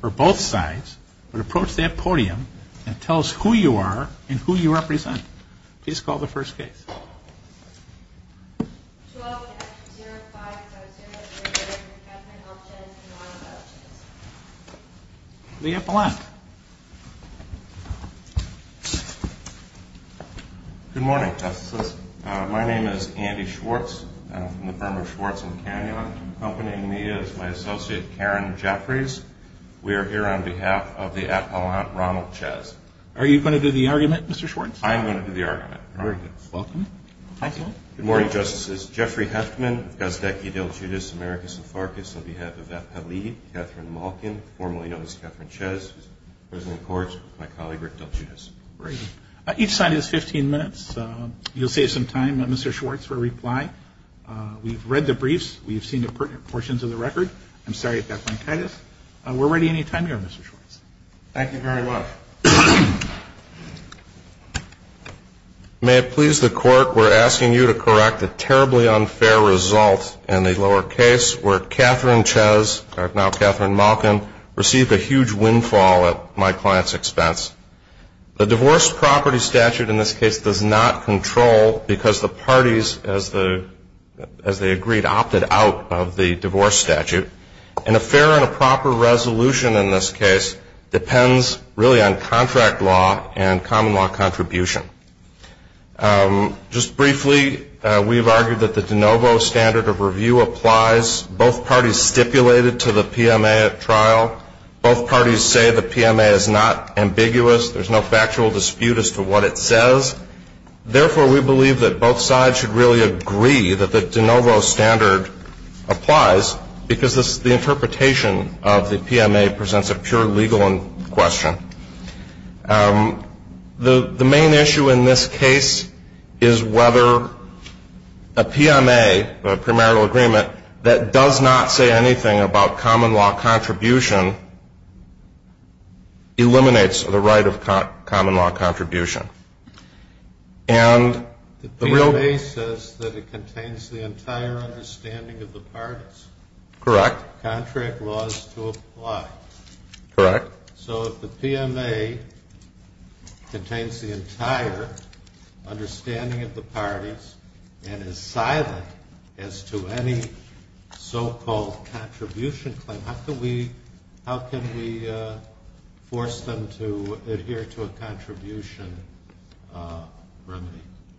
For both sides would approach that podium and tell us who you are and who you represent. Please call the first case The epilogue Good morning My name is Andy Schwartz I'm from the firm of Schwartz & Kanyon. Accompanying me is my associate Karen Jeffries. We are here on behalf of the Appellant Ronald Chez. Are you going to do the argument Mr. Schwartz? I'm going to do the argument. Very good. Welcome. Thank you. Good morning, Justices Jeffrey Heftman, Gazdeki, Del Giudice, Americus, and Farkas on behalf of Evette Pelley, Catherine Malkin, formerly known as Catherine Chez, who is the President of the Court, and my colleague Rick Del Giudice. Each side is 15 minutes. You'll save some time, Mr. Schwartz, for a reply. We've read the briefs. We've seen the portions of the record. I'm sorry if that's on titus. We're ready anytime you are, Mr. Schwartz. Thank you very much. May it please the Court, we're asking you to correct a terribly unfair result in the lower case where Catherine Chez, or now Catherine Malkin, received a huge windfall at my client's expense. The divorce property statute in this case does not control because the parties as the agreed opted out of the divorce statute. An affair on a proper resolution in this case depends really on contract law and common law contribution. Just briefly, we've argued that the de novo standard of review applies. Both parties stipulated to the PMA at trial. Both parties say the PMA is not ambiguous. There's no factual dispute as to what it says. Therefore, we believe that both sides should really agree that the de novo standard applies because the interpretation of the PMA presents a pure legal question. The main issue in this case is whether a PMA, a primarily agreement, that does not say anything about common law contribution eliminates the right of common law contribution. And the real basis that it contains the entire understanding of the parties. Correct. Contract laws to apply. Correct. So if the PMA contains the entire understanding of the parties and is silent as to any so-called contribution claim, how can we force them to adhere to a contribution remedy?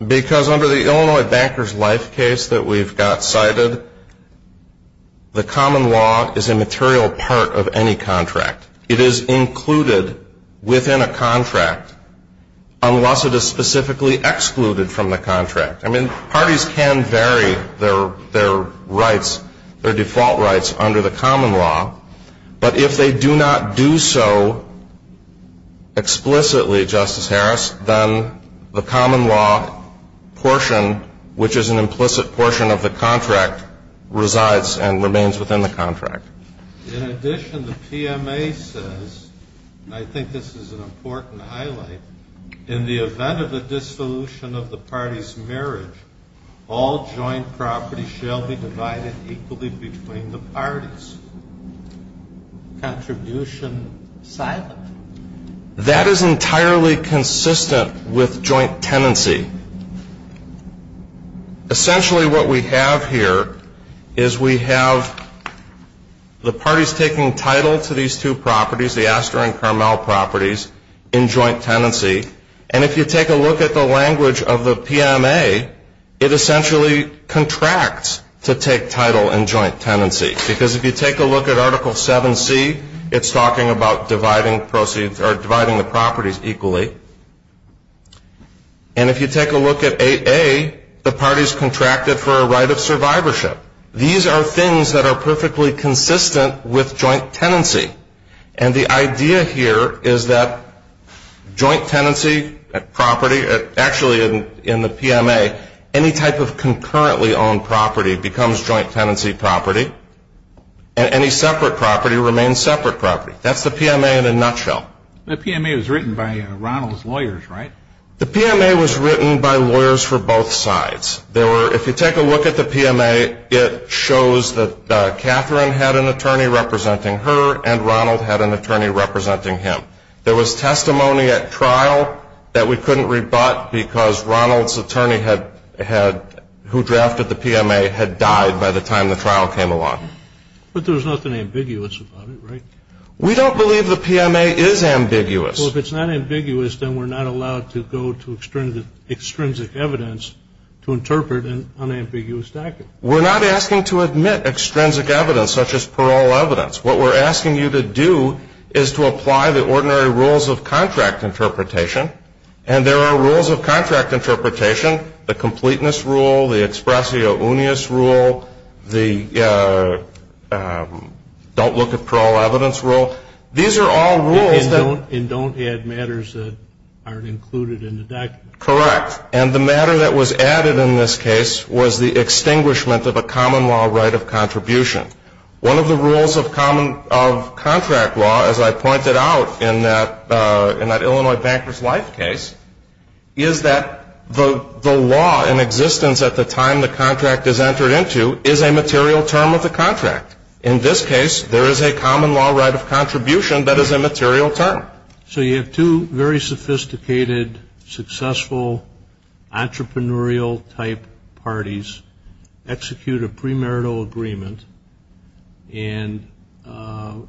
Because under the Illinois Banker's Life case that we've got cited, the common law is a material part of any contract. It is included within a contract unless it is specifically excluded from the contract. I mean, parties can vary their rights, their default rights, under the common law. But if they do not do so explicitly, Justice Harris, then the common law portion, which is an implicit portion of the contract, resides and remains within the contract. In addition, the PMA says, and I think this is an important highlight, in the event of a dissolution of the party's marriage, all joint property shall be divided equally between the parties. Contribution silent. That is entirely consistent with joint tenancy. Essentially what we have here is we have the parties taking title to these two properties, the Aster and Carmel properties, in joint tenancy. And if you take a look at the language of the PMA, it essentially contracts to take title in joint tenancy. Because if you take a look at Article 7c, it's talking about dividing proceeds, or dividing the properties equally. And if you take a look at 8a, the parties contract it for a right of survivorship. These are things that are perfectly consistent with joint tenancy. And the idea here is that joint tenancy at property, actually in the PMA, any type of concurrently owned property becomes joint tenancy property. And any separate property remains separate property. That's the PMA in a nutshell. The PMA was written by Ronald's lawyers, right? The PMA was written by lawyers for both sides. There were, if you take a look at the PMA, it shows that Catherine had an attorney representing her, and Ronald had an attorney representing him. There was testimony at trial that we couldn't rebut because Ronald's attorney had, who drafted the PMA, had died by the time the trial came along. But there was nothing ambiguous about it, right? We don't believe the PMA is ambiguous. Well, if it's not ambiguous, then we're not allowed to go to extrinsic evidence to interpret an unambiguous document. We're not asking to admit extrinsic evidence such as parole evidence. What we're asking you to do is to apply the ordinary rules of contract interpretation. And there are rules of contract interpretation, the completeness rule, the expressio unius rule, the don't look at parole evidence rule. These are all rules that... And don't add matters that aren't included in the document. Correct. And the matter that was added in this case was the extinguishment of a common law right of contribution. One of the rules of contract law, as I pointed out in that Illinois Banker's Life case, is that the law in existence at the time the contract is entered into is a material term of the contract. In this case, there is a common law right of contribution that is a material term. So you have two very sophisticated, successful, entrepreneurial-type parties execute a premarital agreement and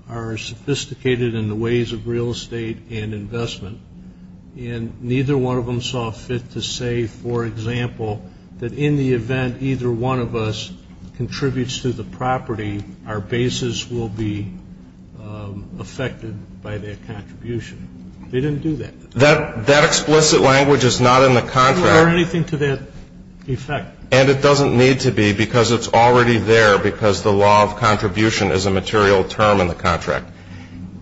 are sophisticated in the ways of real estate and investment. And neither one of them saw fit to say, for example, that in the event either one of us contributes to the property, our basis will be affected by their contribution. They didn't do that. That explicit language is not in the contract. Or anything to that effect. And it doesn't need to be, because it's already there, because the law of contribution is a material term in the contract.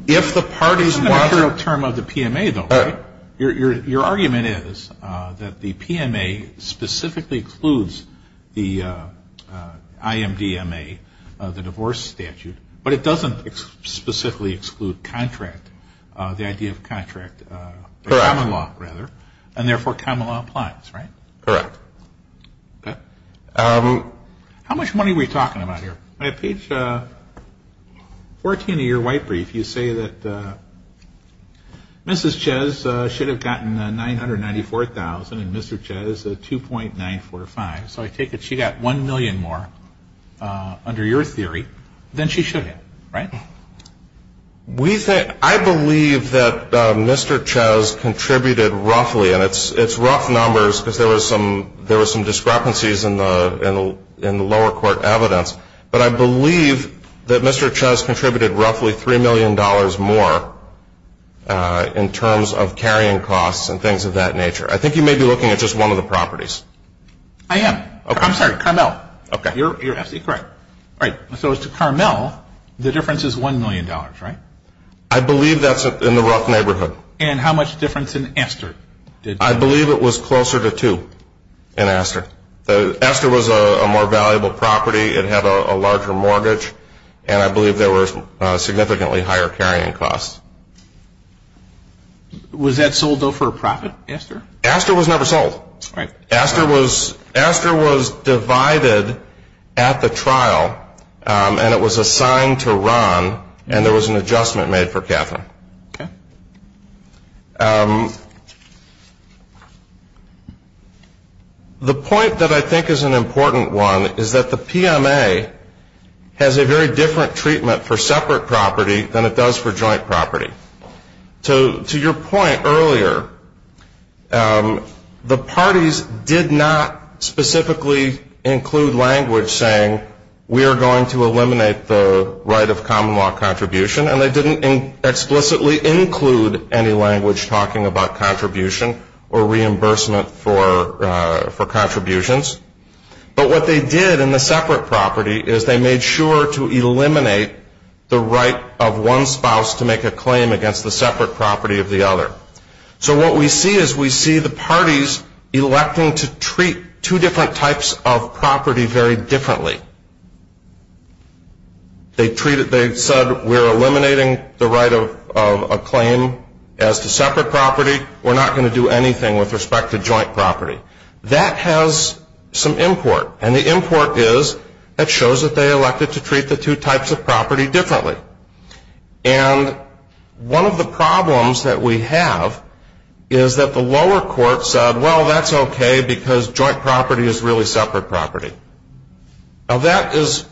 It's a material term of the PMA, though, right? Your argument is that the PMA specifically includes the IMDMA, the divorce statute, but it doesn't specifically exclude contract, the idea of contract, the common law, rather. And therefore, common law applies, right? Okay. How much money were you talking about here? On page 14 of your white brief, you say that Mrs. Chez should have gotten $994,000 and Mr. Chez $2.945. So I take it she got $1 million more under your theory than she should have, right? I believe that Mr. Chez contributed roughly, and it's rough numbers, because there were some discrepancies in the lower court evidence, but I believe that Mr. Chez contributed roughly $3 million more in terms of carrying costs and things of that nature. I think you may be looking at just one of the properties. I am. I'm sorry, Carmel. Okay. You're absolutely correct. All right. So as to Carmel, the difference is $1 million, right? I believe that's in the rough neighborhood. And how much difference in Esther? I believe it was closer to two in Esther. Esther was a more valuable property. It had a larger mortgage, and I believe there were significantly higher carrying costs. Was that sold, though, for a profit, Esther? Esther was never sold. All right. Esther was divided at the trial, and it was assigned to Ron, and there was an adjustment made for Catherine. Okay. The point that I think is an important one is that the PMA has a very different treatment for separate property than it does for joint property. To your point earlier, the parties did not specifically include language saying, we are going to eliminate the right of common law contribution, and they didn't explicitly include any language talking about contribution or reimbursement for contributions. But what they did in the separate property is they made sure to eliminate the right of one spouse to make a claim against the separate property of the other. So what we see is we see the parties electing to treat two different types of property very differently. They said, we're eliminating the right of a claim as to separate property. We're not going to do anything with respect to joint property. That has some import, and the import is it shows that they elected to treat the two types of property differently. And one of the problems that we have is that the lower court said, well, that's okay, because joint property is really separate property. Now, that is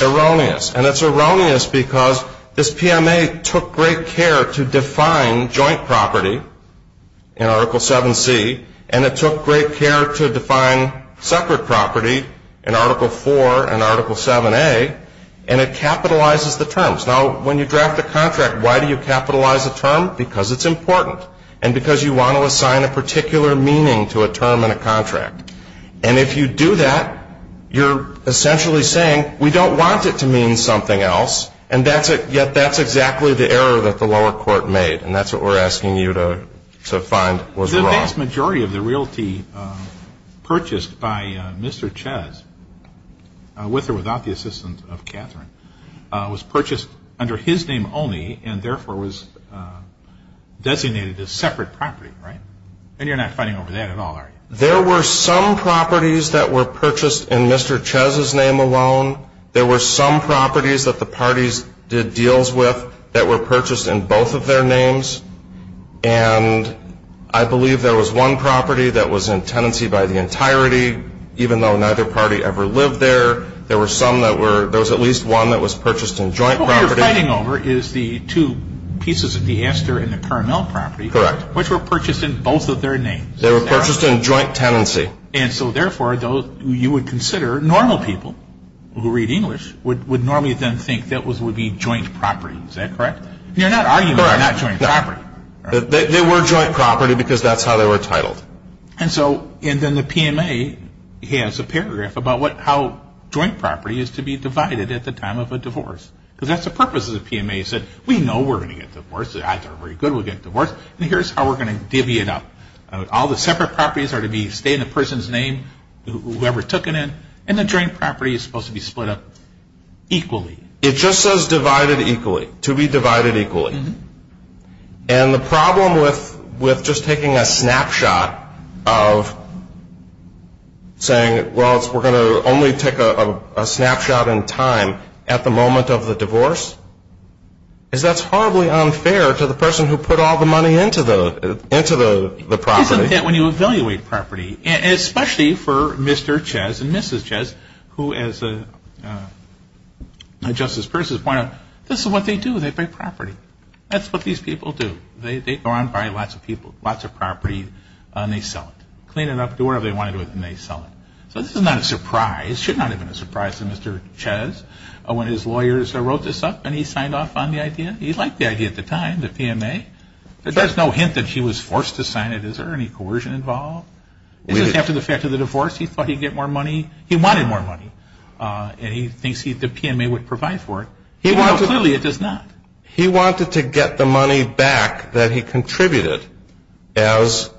erroneous, and it's erroneous because this PMA took great care to define joint property in Article 7C, and it took great care to define separate property in Article 4 and Article 7A, and it capitalizes the terms. Now, when you draft a contract, why do you capitalize a term? Because it's important, and because you want to assign a particular meaning to a term in a contract. And if you do that, you're essentially saying, we don't want it to mean something else, and yet that's exactly the error that the lower court made, and that's what we're asking you to find was wrong. The vast majority of the realty purchased by Mr. Chess, with or without the assistance of Catherine, was purchased under his name only and, therefore, was designated as separate property, right? And you're not fighting over that at all, are you? There were some properties that were purchased in Mr. Chess's name alone. There were some properties that the parties did deals with that were purchased in both of their names, and I believe there was one property that was in tenancy by the entirety, even though neither party ever lived there. There were some that were – there was at least one that was purchased in joint property. What we are fighting over is the two pieces of the aster in the Carmel property. Correct. Which were purchased in both of their names. They were purchased in joint tenancy. And so, therefore, you would consider normal people who read English would normally then think that would be joint property. Is that correct? You're not arguing they're not joint property. They were joint property because that's how they were titled. And so – and then the PMA has a paragraph about how joint property is to be divided at the time of a divorce, because that's the purpose of the PMA, is that we know we're going to get divorced, and here's how we're going to divvy it up. All the separate properties are to stay in the person's name, whoever took it in, and the joint property is supposed to be split up equally. It just says divided equally, to be divided equally. And the problem with just taking a snapshot of saying, well, we're going to only take a snapshot in time at the moment of the divorce, is that's horribly unfair to the person who put all the money into the property. Isn't that when you evaluate property, especially for Mr. Chez and Mrs. Chez, who, as Justice Persons pointed out, this is what they do, they pay property. That's what these people do. They go out and buy lots of property, and they sell it. Clean it up, do whatever they want to do with it, and they sell it. So this is not a surprise. It should not have been a surprise to Mr. Chez when his lawyers wrote this up, and he signed off on the idea. He liked the idea at the time, the PMA. There's no hint that he was forced to sign it. Is there any coercion involved? Is this after the fact of the divorce? He thought he'd get more money. He wanted more money, and he thinks the PMA would provide for it. Well, clearly it does not. He wanted to get the money back that he contributed, as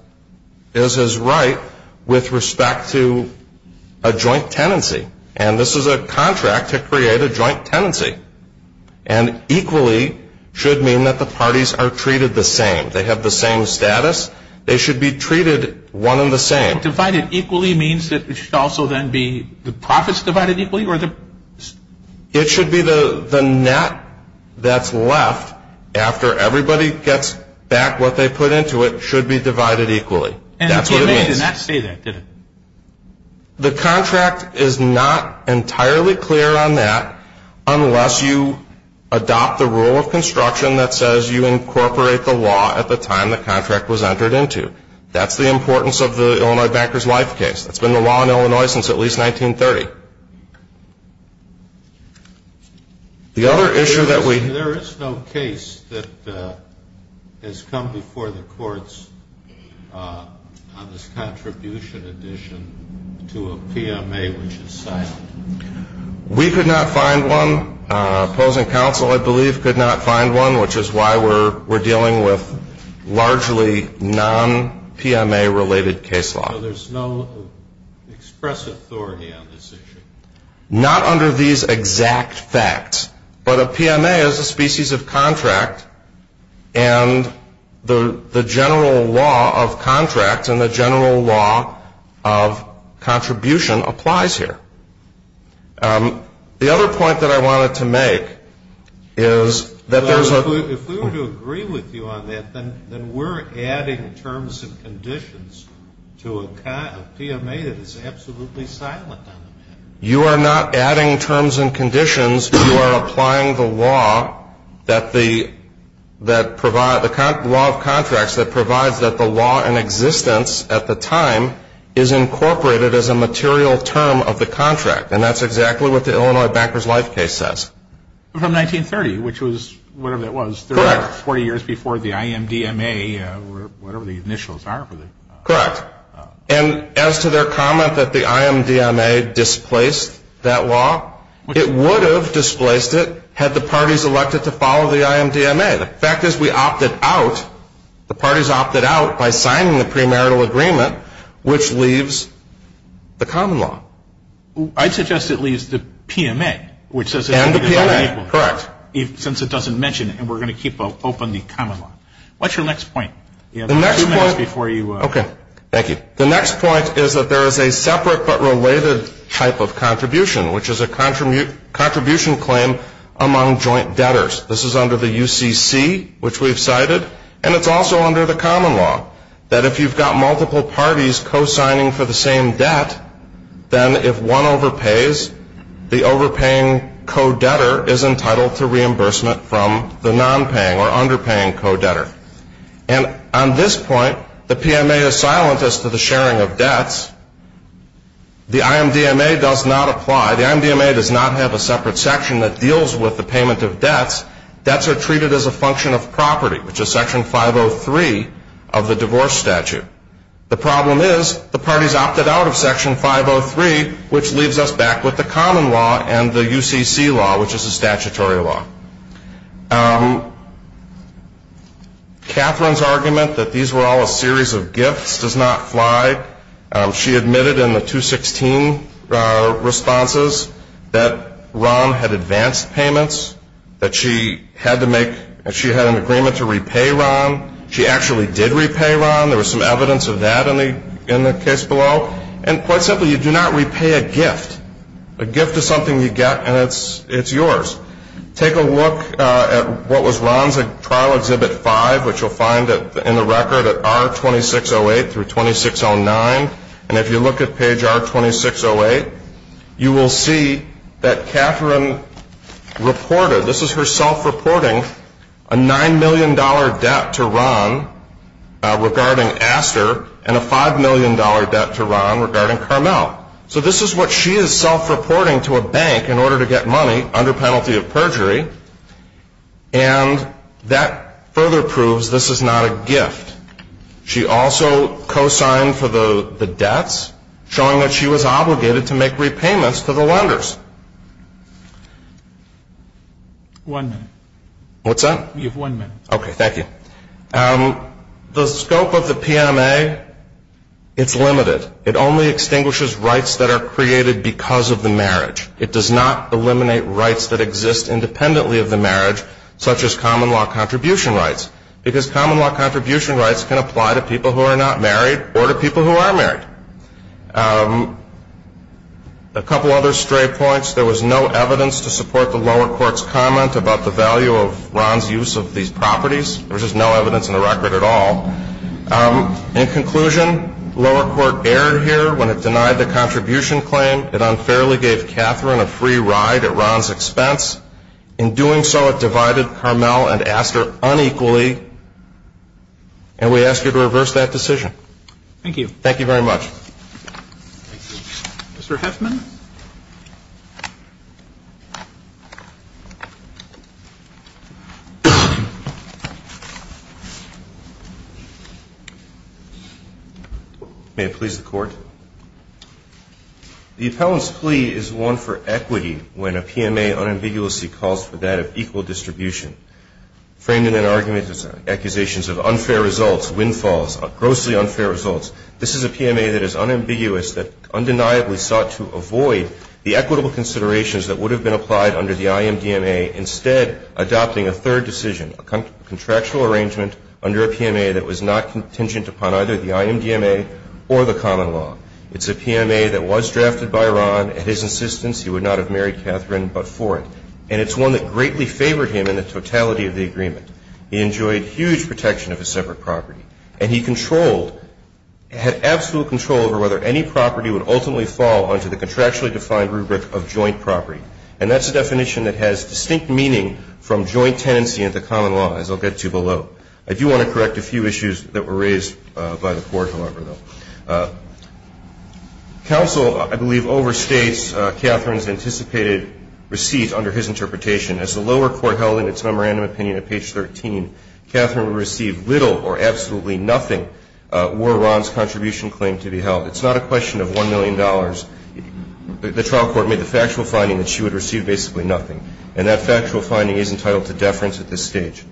is his right, with respect to a joint tenancy. And this is a contract to create a joint tenancy. And equally should mean that the parties are treated the same. They have the same status. They should be treated one and the same. Divided equally means that it should also then be the profits divided equally? It should be the net that's left after everybody gets back what they put into it should be divided equally. That's what it means. And the PMA did not say that, did it? The contract is not entirely clear on that unless you adopt the rule of construction that says you incorporate the law at the time the contract was entered into. That's the importance of the Illinois Banker's Life case. That's been the law in Illinois since at least 1930. There is no case that has come before the courts on this contribution addition to a PMA which is silent. We could not find one. Opposing counsel, I believe, could not find one, which is why we're dealing with largely non-PMA-related case law. Not under these exact facts, but a PMA is a species of contract, and the general law of contract and the general law of contribution applies here. The other point that I wanted to make is that there's a – If we were to agree with you on that, then we're adding terms and conditions to a PMA that is absolutely silent on the matter. You are not adding terms and conditions. You are applying the law that provides – the law of contracts that provides that the law in existence at the time is incorporated as a material term of the contract, and that's exactly what the Illinois Banker's Life case says. From 1930, which was whatever that was. Correct. 40 years before the IMDMA, whatever the initials are for the – Correct. And as to their comment that the IMDMA displaced that law, it would have displaced it had the parties elected to follow the IMDMA. The fact is we opted out – the parties opted out by signing the premarital agreement, which leaves the common law. I'd suggest it leaves the PMA, which says – And the PMA. Correct. Since it doesn't mention it, and we're going to keep open the common law. What's your next point? The next point – Two minutes before you – Okay. Thank you. The next point is that there is a separate but related type of contribution, which is a contribution claim among joint debtors. This is under the UCC, which we've cited, and it's also under the common law, that if you've got multiple parties co-signing for the same debt, then if one overpays, the overpaying co-debtor is entitled to reimbursement from the nonpaying or underpaying co-debtor. And on this point, the PMA is silent as to the sharing of debts. The IMDMA does not apply. The IMDMA does not have a separate section that deals with the payment of debts. Debts are treated as a function of property, which is Section 503 of the divorce statute. The problem is the parties opted out of Section 503, which leaves us back with the common law and the UCC law, which is a statutory law. Catherine's argument that these were all a series of gifts does not fly. She admitted in the 216 responses that Ron had advanced payments, that she had an agreement to repay Ron. She actually did repay Ron. There was some evidence of that in the case below. And quite simply, you do not repay a gift. A gift is something you get, and it's yours. Take a look at what was Ron's trial Exhibit 5, which you'll find in the record at R2608 through 2609. And if you look at page R2608, you will see that Catherine reported, this is her self-reporting, a $9 million debt to Ron regarding Aster and a $5 million debt to Ron regarding Carmel. So this is what she is self-reporting to a bank in order to get money under penalty of perjury, and that further proves this is not a gift. She also co-signed for the debts, showing that she was obligated to make repayments to the lenders. One minute. What's that? You have one minute. Okay. Thank you. The scope of the PMA, it's limited. It only extinguishes rights that are created because of the marriage. It does not eliminate rights that exist independently of the marriage, such as common law contribution rights. Because common law contribution rights can apply to people who are not married or to people who are married. A couple other stray points. There was no evidence to support the lower court's comment about the value of Ron's use of these properties. There was just no evidence in the record at all. In conclusion, lower court erred here when it denied the contribution claim. It unfairly gave Catherine a free ride at Ron's expense. In doing so, it divided Carmel and Astor unequally, and we ask you to reverse that decision. Thank you. Thank you very much. Thank you. Mr. Heffman. May it please the Court. The appellant's plea is one for equity when a PMA unambiguously calls for that of equal distribution. Framed in an argument of accusations of unfair results, windfalls, grossly unfair results, this is a PMA that is unambiguous that undeniably sought to avoid the equitable considerations that would have been applied under the IMDMA, instead adopting a third decision, a contractual arrangement under a PMA that was not contingent upon either the IMDMA or the common law. It's a PMA that was drafted by Ron. At his insistence, he would not have married Catherine but for it. And it's one that greatly favored him in the totality of the agreement. He enjoyed huge protection of a separate property. And he controlled, had absolute control over whether any property would ultimately fall onto the contractually defined rubric of joint property. And that's a definition that has distinct meaning from joint tenancy and the common law, as I'll get to below. I do want to correct a few issues that were raised by the Court, however, though. Counsel, I believe, overstates Catherine's anticipated receipt under his interpretation. As the lower court held in its memorandum opinion at page 13, Catherine would receive little or absolutely nothing were Ron's contribution claim to be held. It's not a question of $1 million. The trial court made the factual finding that she would receive basically nothing. And that factual finding is entitled to deference at this stage.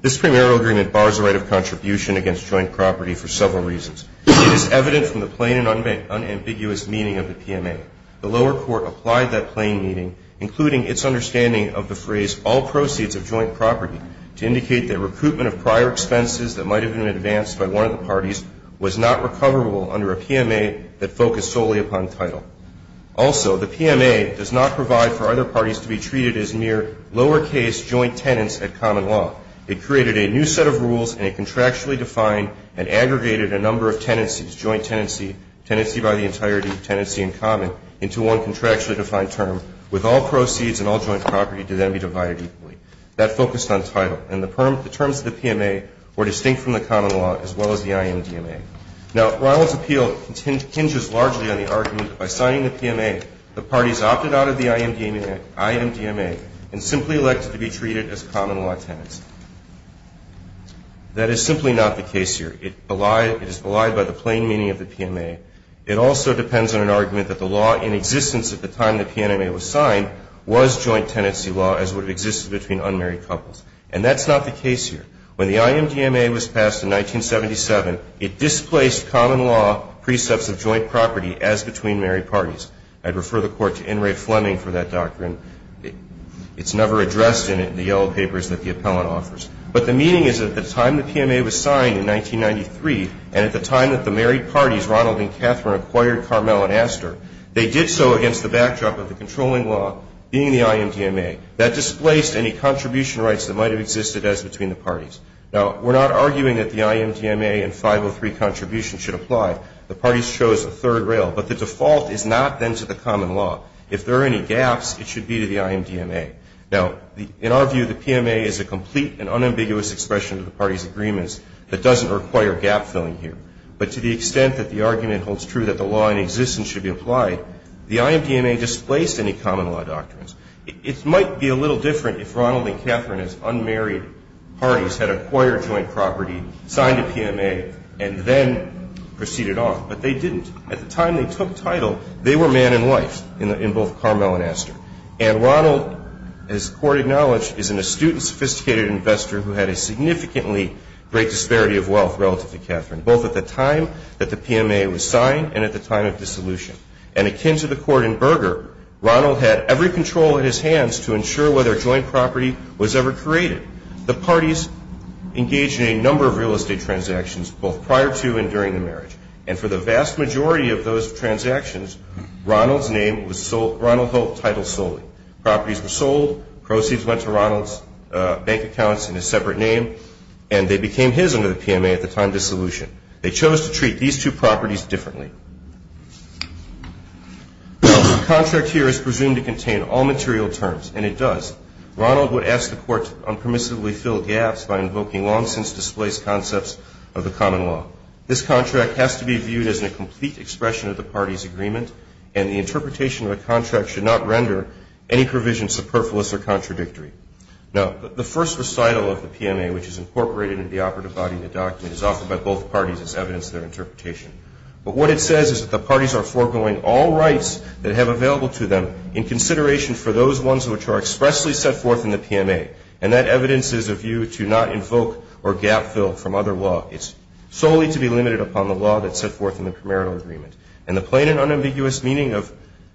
This premarital agreement bars the right of contribution against joint property for several reasons. It is evident from the plain and unambiguous meaning of the PMA. The lower court applied that plain meaning, including its understanding of the phrase all proceeds of joint property, to indicate that recruitment of prior expenses that might have been advanced by one of the parties was not recoverable under a PMA that focused solely upon title. Also, the PMA does not provide for other parties to be treated as mere lower case joint tenants at common law. It created a new set of rules and a contractually defined and aggregated a number of tenancies, joint tenancy, tenancy by the entirety, tenancy in common, into one contractually defined term, with all proceeds and all joint property to then be divided equally. That focused on title. And the terms of the PMA were distinct from the common law as well as the IMDMA. Now, Ronald's appeal hinges largely on the argument that by signing the PMA, the parties opted out of the IMDMA and simply elected to be treated as common law tenants. That is simply not the case here. It is belied by the plain meaning of the PMA. It also depends on an argument that the law in existence at the time the PMA was signed was joint tenancy law as would have existed between unmarried couples. And that's not the case here. When the IMDMA was passed in 1977, it displaced common law precepts of joint property as between married parties. I'd refer the Court to N. Ray Fleming for that doctrine. It's never addressed in it in the yellow papers that the appellant offers. But the meaning is that at the time the PMA was signed in 1993, and at the time that the married parties, Ronald and Catherine, acquired Carmel and Astor, they did so against the backdrop of the controlling law being the IMDMA. That displaced any contribution rights that might have existed as between the parties. Now, we're not arguing that the IMDMA and 503 contribution should apply. The parties chose a third rail. But the default is not then to the common law. If there are any gaps, it should be to the IMDMA. Now, in our view, the PMA is a complete and unambiguous expression of the parties' agreements that doesn't require gap-filling here. But to the extent that the argument holds true that the law in existence should be applied, the IMDMA displaced any common law doctrines. It might be a little different if Ronald and Catherine as unmarried parties had acquired joint property, signed a PMA, and then proceeded off. But they didn't. At the time they took title, they were man and wife in both Carmel and Astor. And Ronald, as the Court acknowledged, is an astute and sophisticated investor who had a significantly great disparity of wealth relative to Catherine, both at the time that the PMA was signed and at the time of dissolution. And akin to the court in Berger, Ronald had every control in his hands to ensure whether joint property was ever created. The parties engaged in a number of real estate transactions both prior to and during the marriage. And for the vast majority of those transactions, Ronald's name was sold, Ronald Hope title solely. Properties were sold, proceeds went to Ronald's bank accounts in a separate name, and they became his under the PMA at the time of dissolution. They chose to treat these two properties differently. The contract here is presumed to contain all material terms, and it does. Ronald would ask the court to unpermissibly fill gaps by invoking long-since displaced concepts of the common law. This contract has to be viewed as a complete expression of the party's agreement, and the interpretation of the contract should not render any provision superfluous or contradictory. Now, the first recital of the PMA, which is incorporated in the operative body of the document, is offered by both parties as evidence of their interpretation. But what it says is that the parties are foregoing all rights that have available to them in consideration for those ones which are expressly set forth in the PMA. And that evidence is a view to not invoke or gap fill from other law. It's solely to be limited upon the law that's set forth in the premarital agreement. And the plain and unambiguous meaning of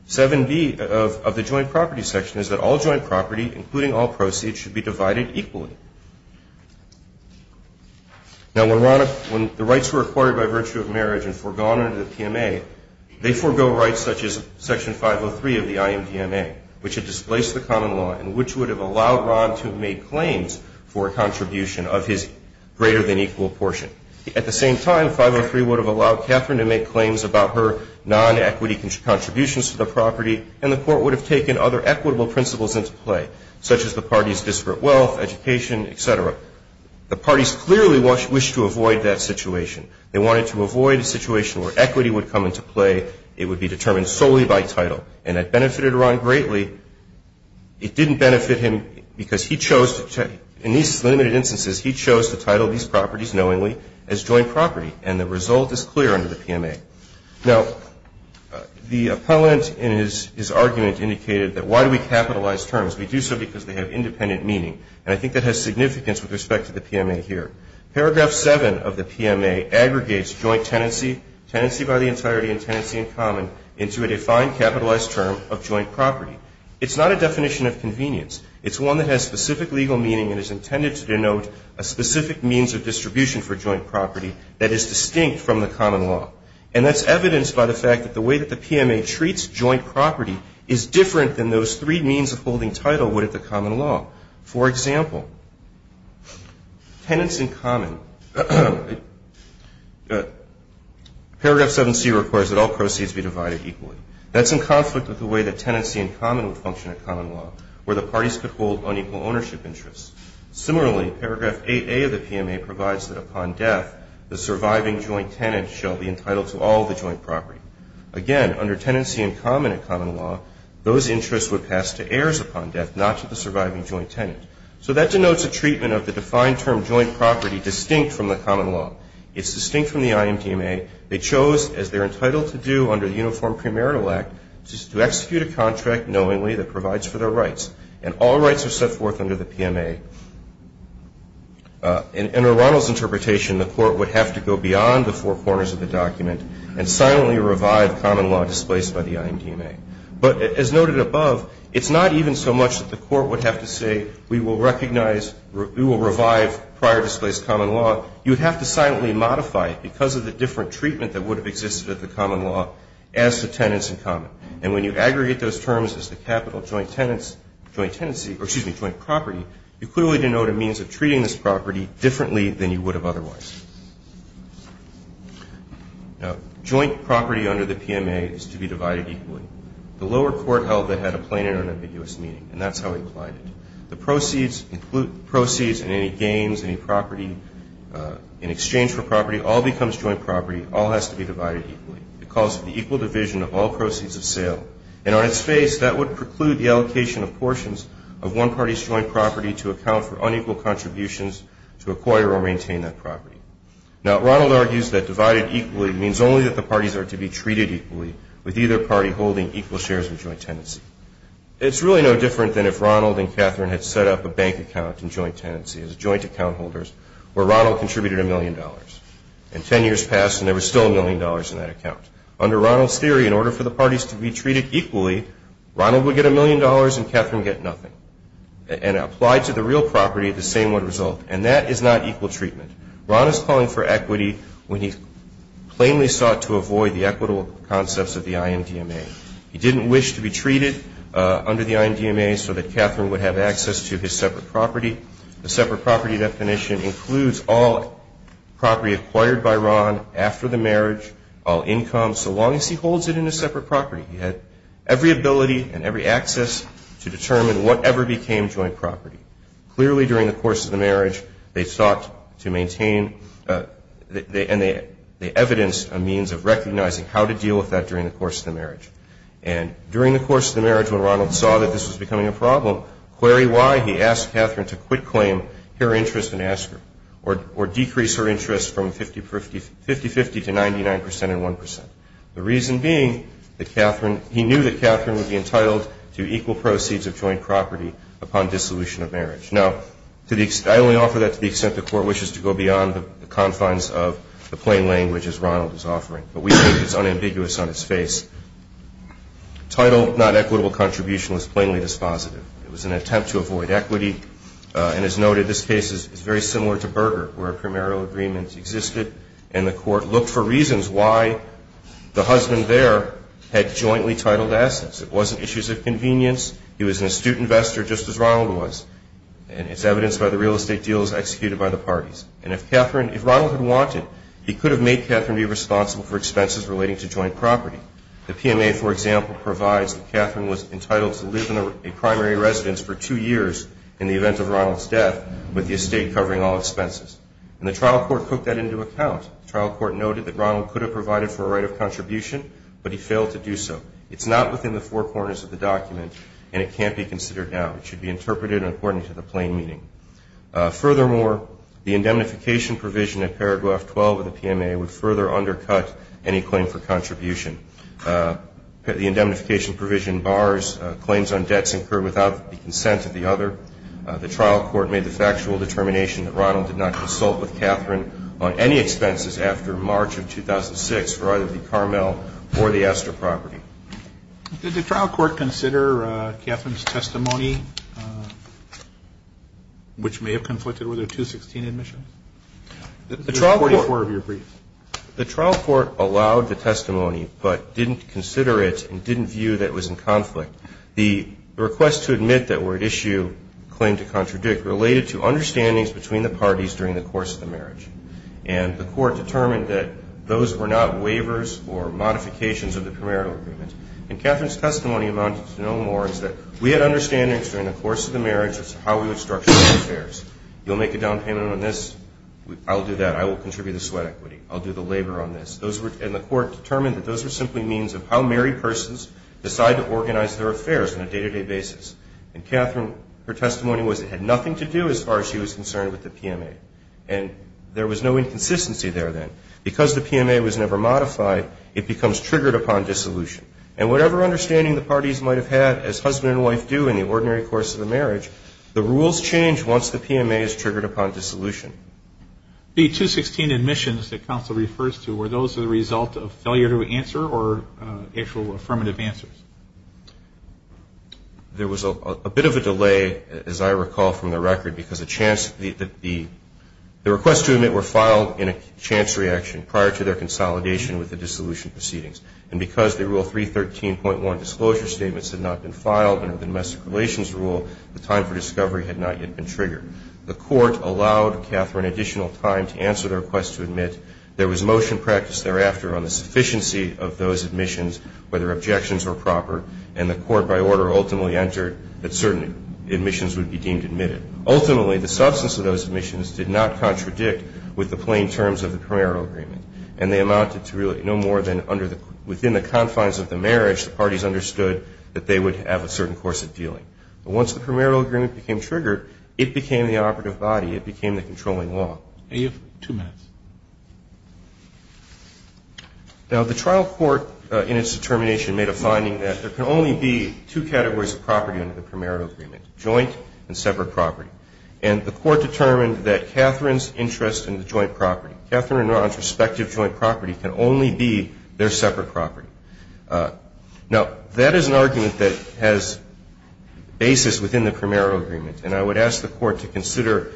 7B of the joint property section is that all joint property, including all proceeds, should be divided equally. Now, when the rights were acquired by virtue of marriage and foregone under the PMA, they forego rights such as Section 503 of the IMDMA, which had displaced the common law and which would have allowed Ron to have made claims for a contribution of his At the same time, 503 would have allowed Catherine to make claims about her non-equity contributions to the property, and the Court would have taken other equitable principles into play, such as the parties' disparate wealth, education, et cetera. The parties clearly wished to avoid that situation. They wanted to avoid a situation where equity would come into play. It would be determined solely by title. And that benefited Ron greatly. It didn't benefit him because he chose to check. In these limited instances, he chose to title these properties knowingly as joint property. And the result is clear under the PMA. Now, the appellant in his argument indicated that why do we capitalize terms? We do so because they have independent meaning. And I think that has significance with respect to the PMA here. Paragraph 7 of the PMA aggregates joint tenancy, tenancy by the entirety and tenancy in common, into a defined capitalized term of joint property. It's not a definition of convenience. It's one that has specific legal meaning and is intended to denote a specific means of distribution for joint property that is distinct from the common law. And that's evidenced by the fact that the way that the PMA treats joint property is different than those three means of holding title would at the common law. For example, tenancy in common, paragraph 7C requires that all proceeds be divided equally. That's in conflict with the way that tenancy in common would function at common law, where the parties could hold unequal ownership interests. Similarly, paragraph 8A of the PMA provides that upon death, the surviving joint tenant shall be entitled to all the joint property. Again, under tenancy in common at common law, those interests would pass to heirs upon death, not to the surviving joint tenant. So that denotes a treatment of the defined term joint property distinct from the common law. It's distinct from the IMDMA. They chose, as they're entitled to do under the Uniform Premarital Act, to execute a contract knowingly that provides for their rights. And all rights are set forth under the PMA. In O'Ronnell's interpretation, the court would have to go beyond the four corners of the document and silently revive common law displaced by the IMDMA. But as noted above, it's not even so much that the court would have to say we will recognize, we will revive prior displaced common law. You would have to silently modify it because of the different treatment that would have existed at the common law as to tenancy in common. And when you aggregate those terms as the capital joint tenancy or, excuse me, joint property, you clearly denote a means of treating this property differently than you would have otherwise. Now, joint property under the PMA is to be divided equally. The lower court held it had a plain and unambiguous meaning. And that's how we applied it. The proceeds and any gains, any property in exchange for property all becomes joint property. All has to be divided equally. It calls for the equal division of all proceeds of sale. And on its face, that would preclude the allocation of portions of one party's joint property to account for unequal contributions to acquire or maintain that property. Now, O'Ronnell argues that divided equally means only that the parties are to be treated equally with either party holding equal shares in joint tenancy. It's really no different than if Ronald and Catherine had set up a bank account in joint tenancy as joint account holders where Ronald contributed a million dollars. And ten years passed and there was still a million dollars in that account. Under Ronald's theory, in order for the parties to be treated equally, Ronald would get a million dollars and Catherine would get nothing. And applied to the real property, the same would result. And that is not equal treatment. Ronald is calling for equity when he plainly sought to avoid the equitable concepts of the IMDMA. He didn't wish to be treated under the IMDMA so that Catherine would have access to his separate property. The separate property definition includes all property acquired by Ron after the marriage, all income, so long as he holds it in a separate property. He had every ability and every access to determine whatever became joint property. Clearly, during the course of the marriage, they sought to maintain and they evidenced a means of recognizing how to deal with that during the course of the marriage. And during the course of the marriage, when Ronald saw that this was becoming a her interest and ask her, or decrease her interest from 50-50 to 99 percent and 1 percent. The reason being that he knew that Catherine would be entitled to equal proceeds of joint property upon dissolution of marriage. Now, I only offer that to the extent the Court wishes to go beyond the confines of the plain language as Ronald is offering. But we think it's unambiguous on its face. Title not equitable contribution was plainly dispositive. It was an attempt to avoid equity. And as noted, this case is very similar to Berger where a primarial agreement existed and the Court looked for reasons why the husband there had jointly titled assets. It wasn't issues of convenience. He was an astute investor just as Ronald was. And it's evidenced by the real estate deals executed by the parties. And if Catherine, if Ronald had wanted, he could have made Catherine be responsible for expenses relating to joint property. The PMA, for example, provides that Catherine was entitled to live in a primary residence for two years in the event of Ronald's death with the estate covering all expenses. And the trial court took that into account. The trial court noted that Ronald could have provided for a right of contribution, but he failed to do so. It's not within the four corners of the document, and it can't be considered now. It should be interpreted according to the plain meaning. Furthermore, the indemnification provision in paragraph 12 of the PMA would further undercut any claim for contribution. The indemnification provision bars claims on debts incurred without the consent of the other. The trial court made the factual determination that Ronald did not consult with Catherine on any expenses after March of 2006 for either the Carmel or the Astor property. Did the trial court consider Catherine's testimony, which may have conflicted with her 2016 admission? There's 44 of your briefs. The trial court allowed the testimony but didn't consider it and didn't view that it was in conflict. The request to admit that were at issue, claim to contradict, related to understandings between the parties during the course of the marriage. And the court determined that those were not waivers or modifications of the premarital agreement. And Catherine's testimony amounted to no more. It said, we had understandings during the course of the marriage as to how we would structure the affairs. You'll make a down payment on this. I'll do that. I will contribute the sweat equity. I'll do the labor on this. And the court determined that those were simply means of how married persons decide to organize their affairs on a day-to-day basis. And Catherine, her testimony had nothing to do as far as she was concerned with the PMA. And there was no inconsistency there then. Because the PMA was never modified, it becomes triggered upon dissolution. And whatever understanding the parties might have had as husband and wife do in the ordinary course of the marriage, the rules change once the PMA is triggered upon dissolution. The 216 admissions that counsel refers to, were those the result of failure to answer or actual affirmative answers? There was a bit of a delay, as I recall from the record, because the request to admit were filed in a chance reaction prior to their consolidation with the dissolution proceedings. And because the Rule 313.1 disclosure statements had not been filed under the Domestic Relations Rule, the time for discovery had not yet been triggered. The court allowed Catherine additional time to answer their request to admit. There was motion practice thereafter on the sufficiency of those admissions, whether objections were proper. And the court, by order, ultimately entered that certain admissions would be deemed admitted. Ultimately, the substance of those admissions did not contradict with the plain terms of the premarital agreement. And they amounted to really no more than within the confines of the marriage, the parties understood that they would have a certain course of dealing. But once the premarital agreement became triggered, it became the operative body, it became the controlling law. Are you? Two minutes. Now, the trial court, in its determination, made a finding that there can only be two categories of property under the premarital agreement, joint and separate property. And the court determined that Catherine's interest in the joint property, Catherine and Ron's respective joint property, can only be their separate property. Now, that is an argument that has basis within the premarital agreement. And I would ask the court to consider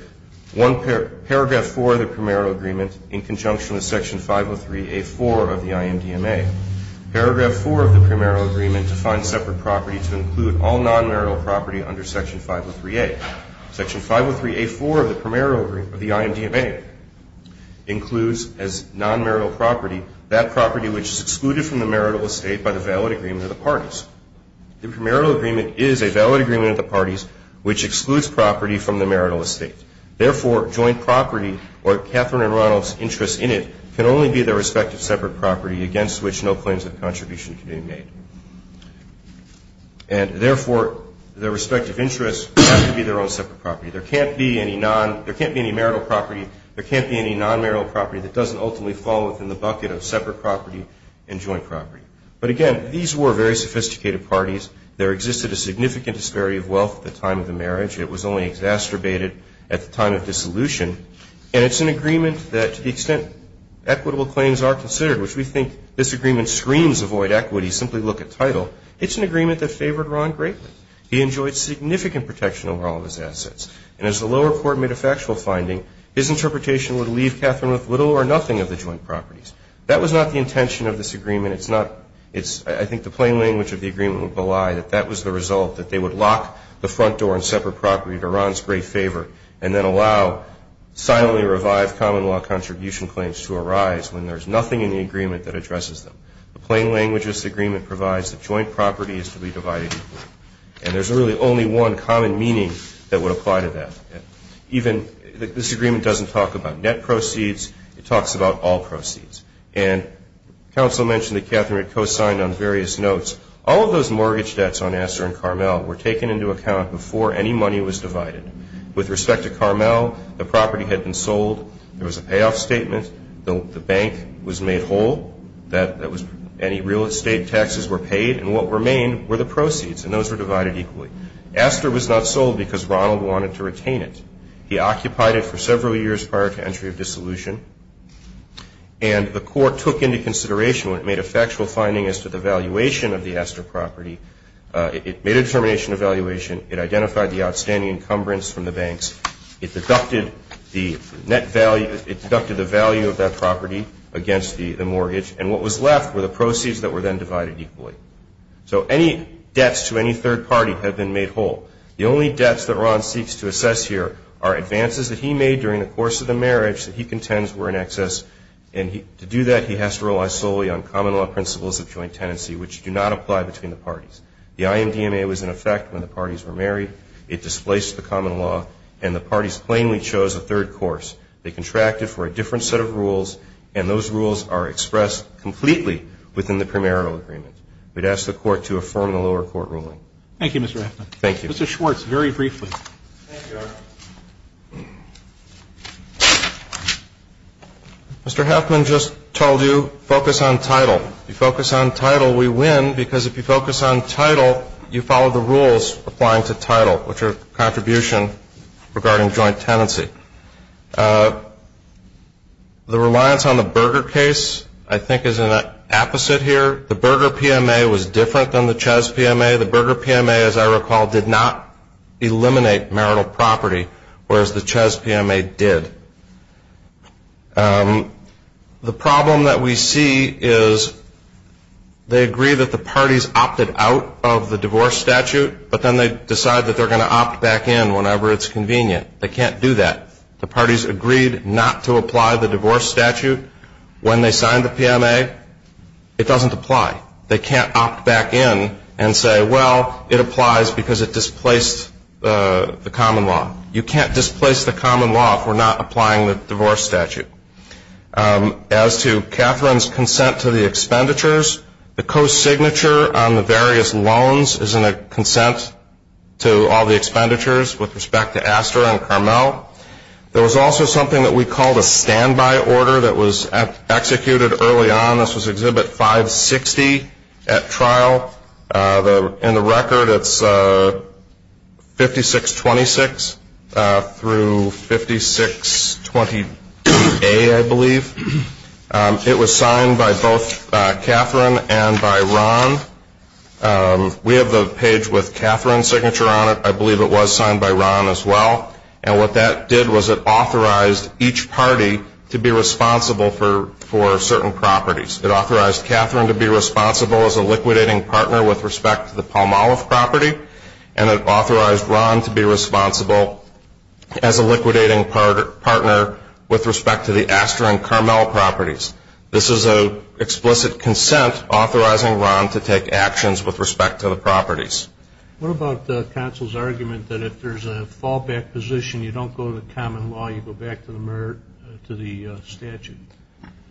paragraph 4 of the premarital agreement in conjunction with Section 503A4 of the IMDMA. Paragraph 4 of the premarital agreement defines separate property to include all nonmarital property under Section 503A. Section 503A4 of the premarital agreement of the IMDMA includes as nonmarital property that property which is excluded from the marital estate by the valid agreement of the parties. The premarital agreement is a valid agreement of the parties which excludes property from the marital estate. Therefore, joint property or Catherine and Ron's interest in it can only be their respective separate property against which no claims of contribution can be made. And therefore, their respective interests have to be their own separate property. There can't be any marital property, there can't be any nonmarital property that doesn't ultimately fall within the bucket of separate property and joint property. But again, these were very sophisticated parties. There existed a significant disparity of wealth at the time of the marriage. It was only exacerbated at the time of dissolution. And it's an agreement that to the extent equitable claims are considered, which we think this agreement screams avoid equity, simply look at title. It's an agreement that favored Ron greatly. He enjoyed significant protection over all of his assets. And as the lower court made a factual finding, his interpretation would leave Catherine with little or nothing of the joint properties. That was not the intention of this agreement. It's not, it's, I think the plain language of the agreement would belie that that was the result, that they would lock the front door and separate property to Ron's great favor and then allow silently revived common law contribution claims to arise when there's nothing in the agreement that addresses them. The plain language of this agreement provides that joint property is to be divided equally. And there's really only one common meaning that would apply to that. Even, this agreement doesn't talk about net proceeds. It talks about all proceeds. And counsel mentioned that Catherine had co-signed on various notes. All of those mortgage debts on Asser and Carmel were taken into account before any money was divided. With respect to Carmel, the property had been sold. There was a payoff statement. The bank was made whole. That was, any real estate taxes were paid. And what remained were the proceeds. And those were divided equally. Asser was not sold because Ronald wanted to retain it. He occupied it for several years prior to entry of dissolution. And the court took into consideration when it made a factual finding as to the valuation of the Asser property. It made a determination of valuation. It identified the outstanding encumbrance from the banks. It deducted the net value. It deducted the value of that property against the mortgage. And what was left were the proceeds that were then divided equally. So any debts to any third party have been made whole. The only debts that Ron seeks to assess here are advances that he made during the course of the marriage that he contends were in excess. And to do that, he has to rely solely on common law principles of joint tenancy, which do not apply between the parties. The IMDMA was in effect when the parties were married. It displaced the common law. And the parties plainly chose a third course. They contracted for a different set of rules. And those rules are expressed completely within the primarial agreement. We'd ask the Court to affirm the lower court ruling. Thank you, Mr. Haffman. Thank you. Mr. Schwartz, very briefly. Thank you, Your Honor. Mr. Haffman just told you focus on title. What's your contribution regarding joint tenancy? The reliance on the Berger case, I think, is an apposite here. The Berger PMA was different than the Chess PMA. The Berger PMA, as I recall, did not eliminate marital property, whereas the Chess PMA did. The problem that we see is they agree that the parties opted out of the PMA and then they decide that they're going to opt back in whenever it's convenient. They can't do that. The parties agreed not to apply the divorce statute. When they signed the PMA, it doesn't apply. They can't opt back in and say, well, it applies because it displaced the common law. You can't displace the common law if we're not applying the divorce statute. As to Catherine's consent to the expenditures, the co-signature on the consent to all the expenditures with respect to Astra and Carmel, there was also something that we called a standby order that was executed early on. This was Exhibit 560 at trial. In the record, it's 5626 through 5628, I believe. It was signed by both Catherine and by Ron. We have the page with Catherine's signature on it. I believe it was signed by Ron as well. And what that did was it authorized each party to be responsible for certain properties. It authorized Catherine to be responsible as a liquidating partner with respect to the Palmolive property, and it authorized Ron to be responsible as a liquidating partner with respect to the Astra and Carmel properties. This is an explicit consent authorizing Ron to take actions with respect to the properties. What about counsel's argument that if there's a fallback position, you don't go to the common law, you go back to the statute?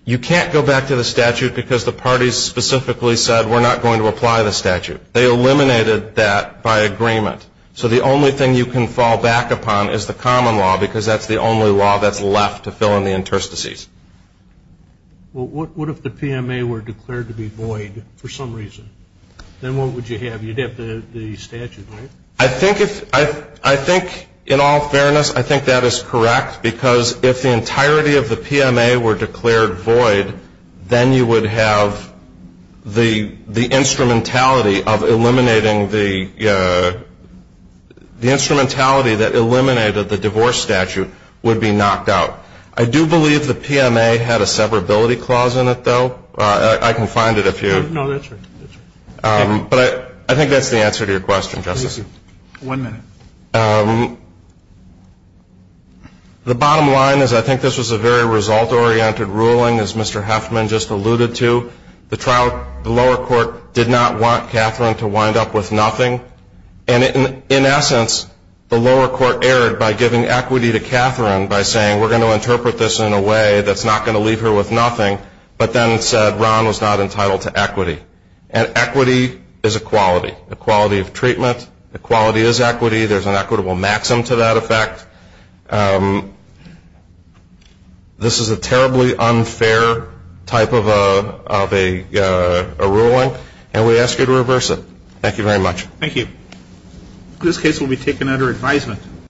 You can't go back to the statute because the parties specifically said we're not going to apply the statute. They eliminated that by agreement. So the only thing you can fall back upon is the common law because that's the What if the PMA were declared to be void for some reason? Then what would you have? You'd have the statute, right? I think in all fairness, I think that is correct because if the entirety of the PMA were declared void, then you would have the instrumentality of eliminating the instrumentality that eliminated the divorce statute would be knocked out. I do believe the PMA had a severability clause in it, though. I can find it if you. No, that's right. But I think that's the answer to your question, Justice. One minute. The bottom line is I think this was a very result-oriented ruling, as Mr. Heffman just alluded to. The trial, the lower court did not want Catherine to wind up with nothing. And in essence, the lower court erred by giving equity to Catherine by saying we're going to interpret this in a way that's not going to leave her with nothing, but then said Ron was not entitled to equity. And equity is equality, equality of treatment. Equality is equity. There's an equitable maxim to that effect. This is a terribly unfair type of a ruling, and we ask you to reverse it. Thank you very much. Thank you. This case will be taken under advisement.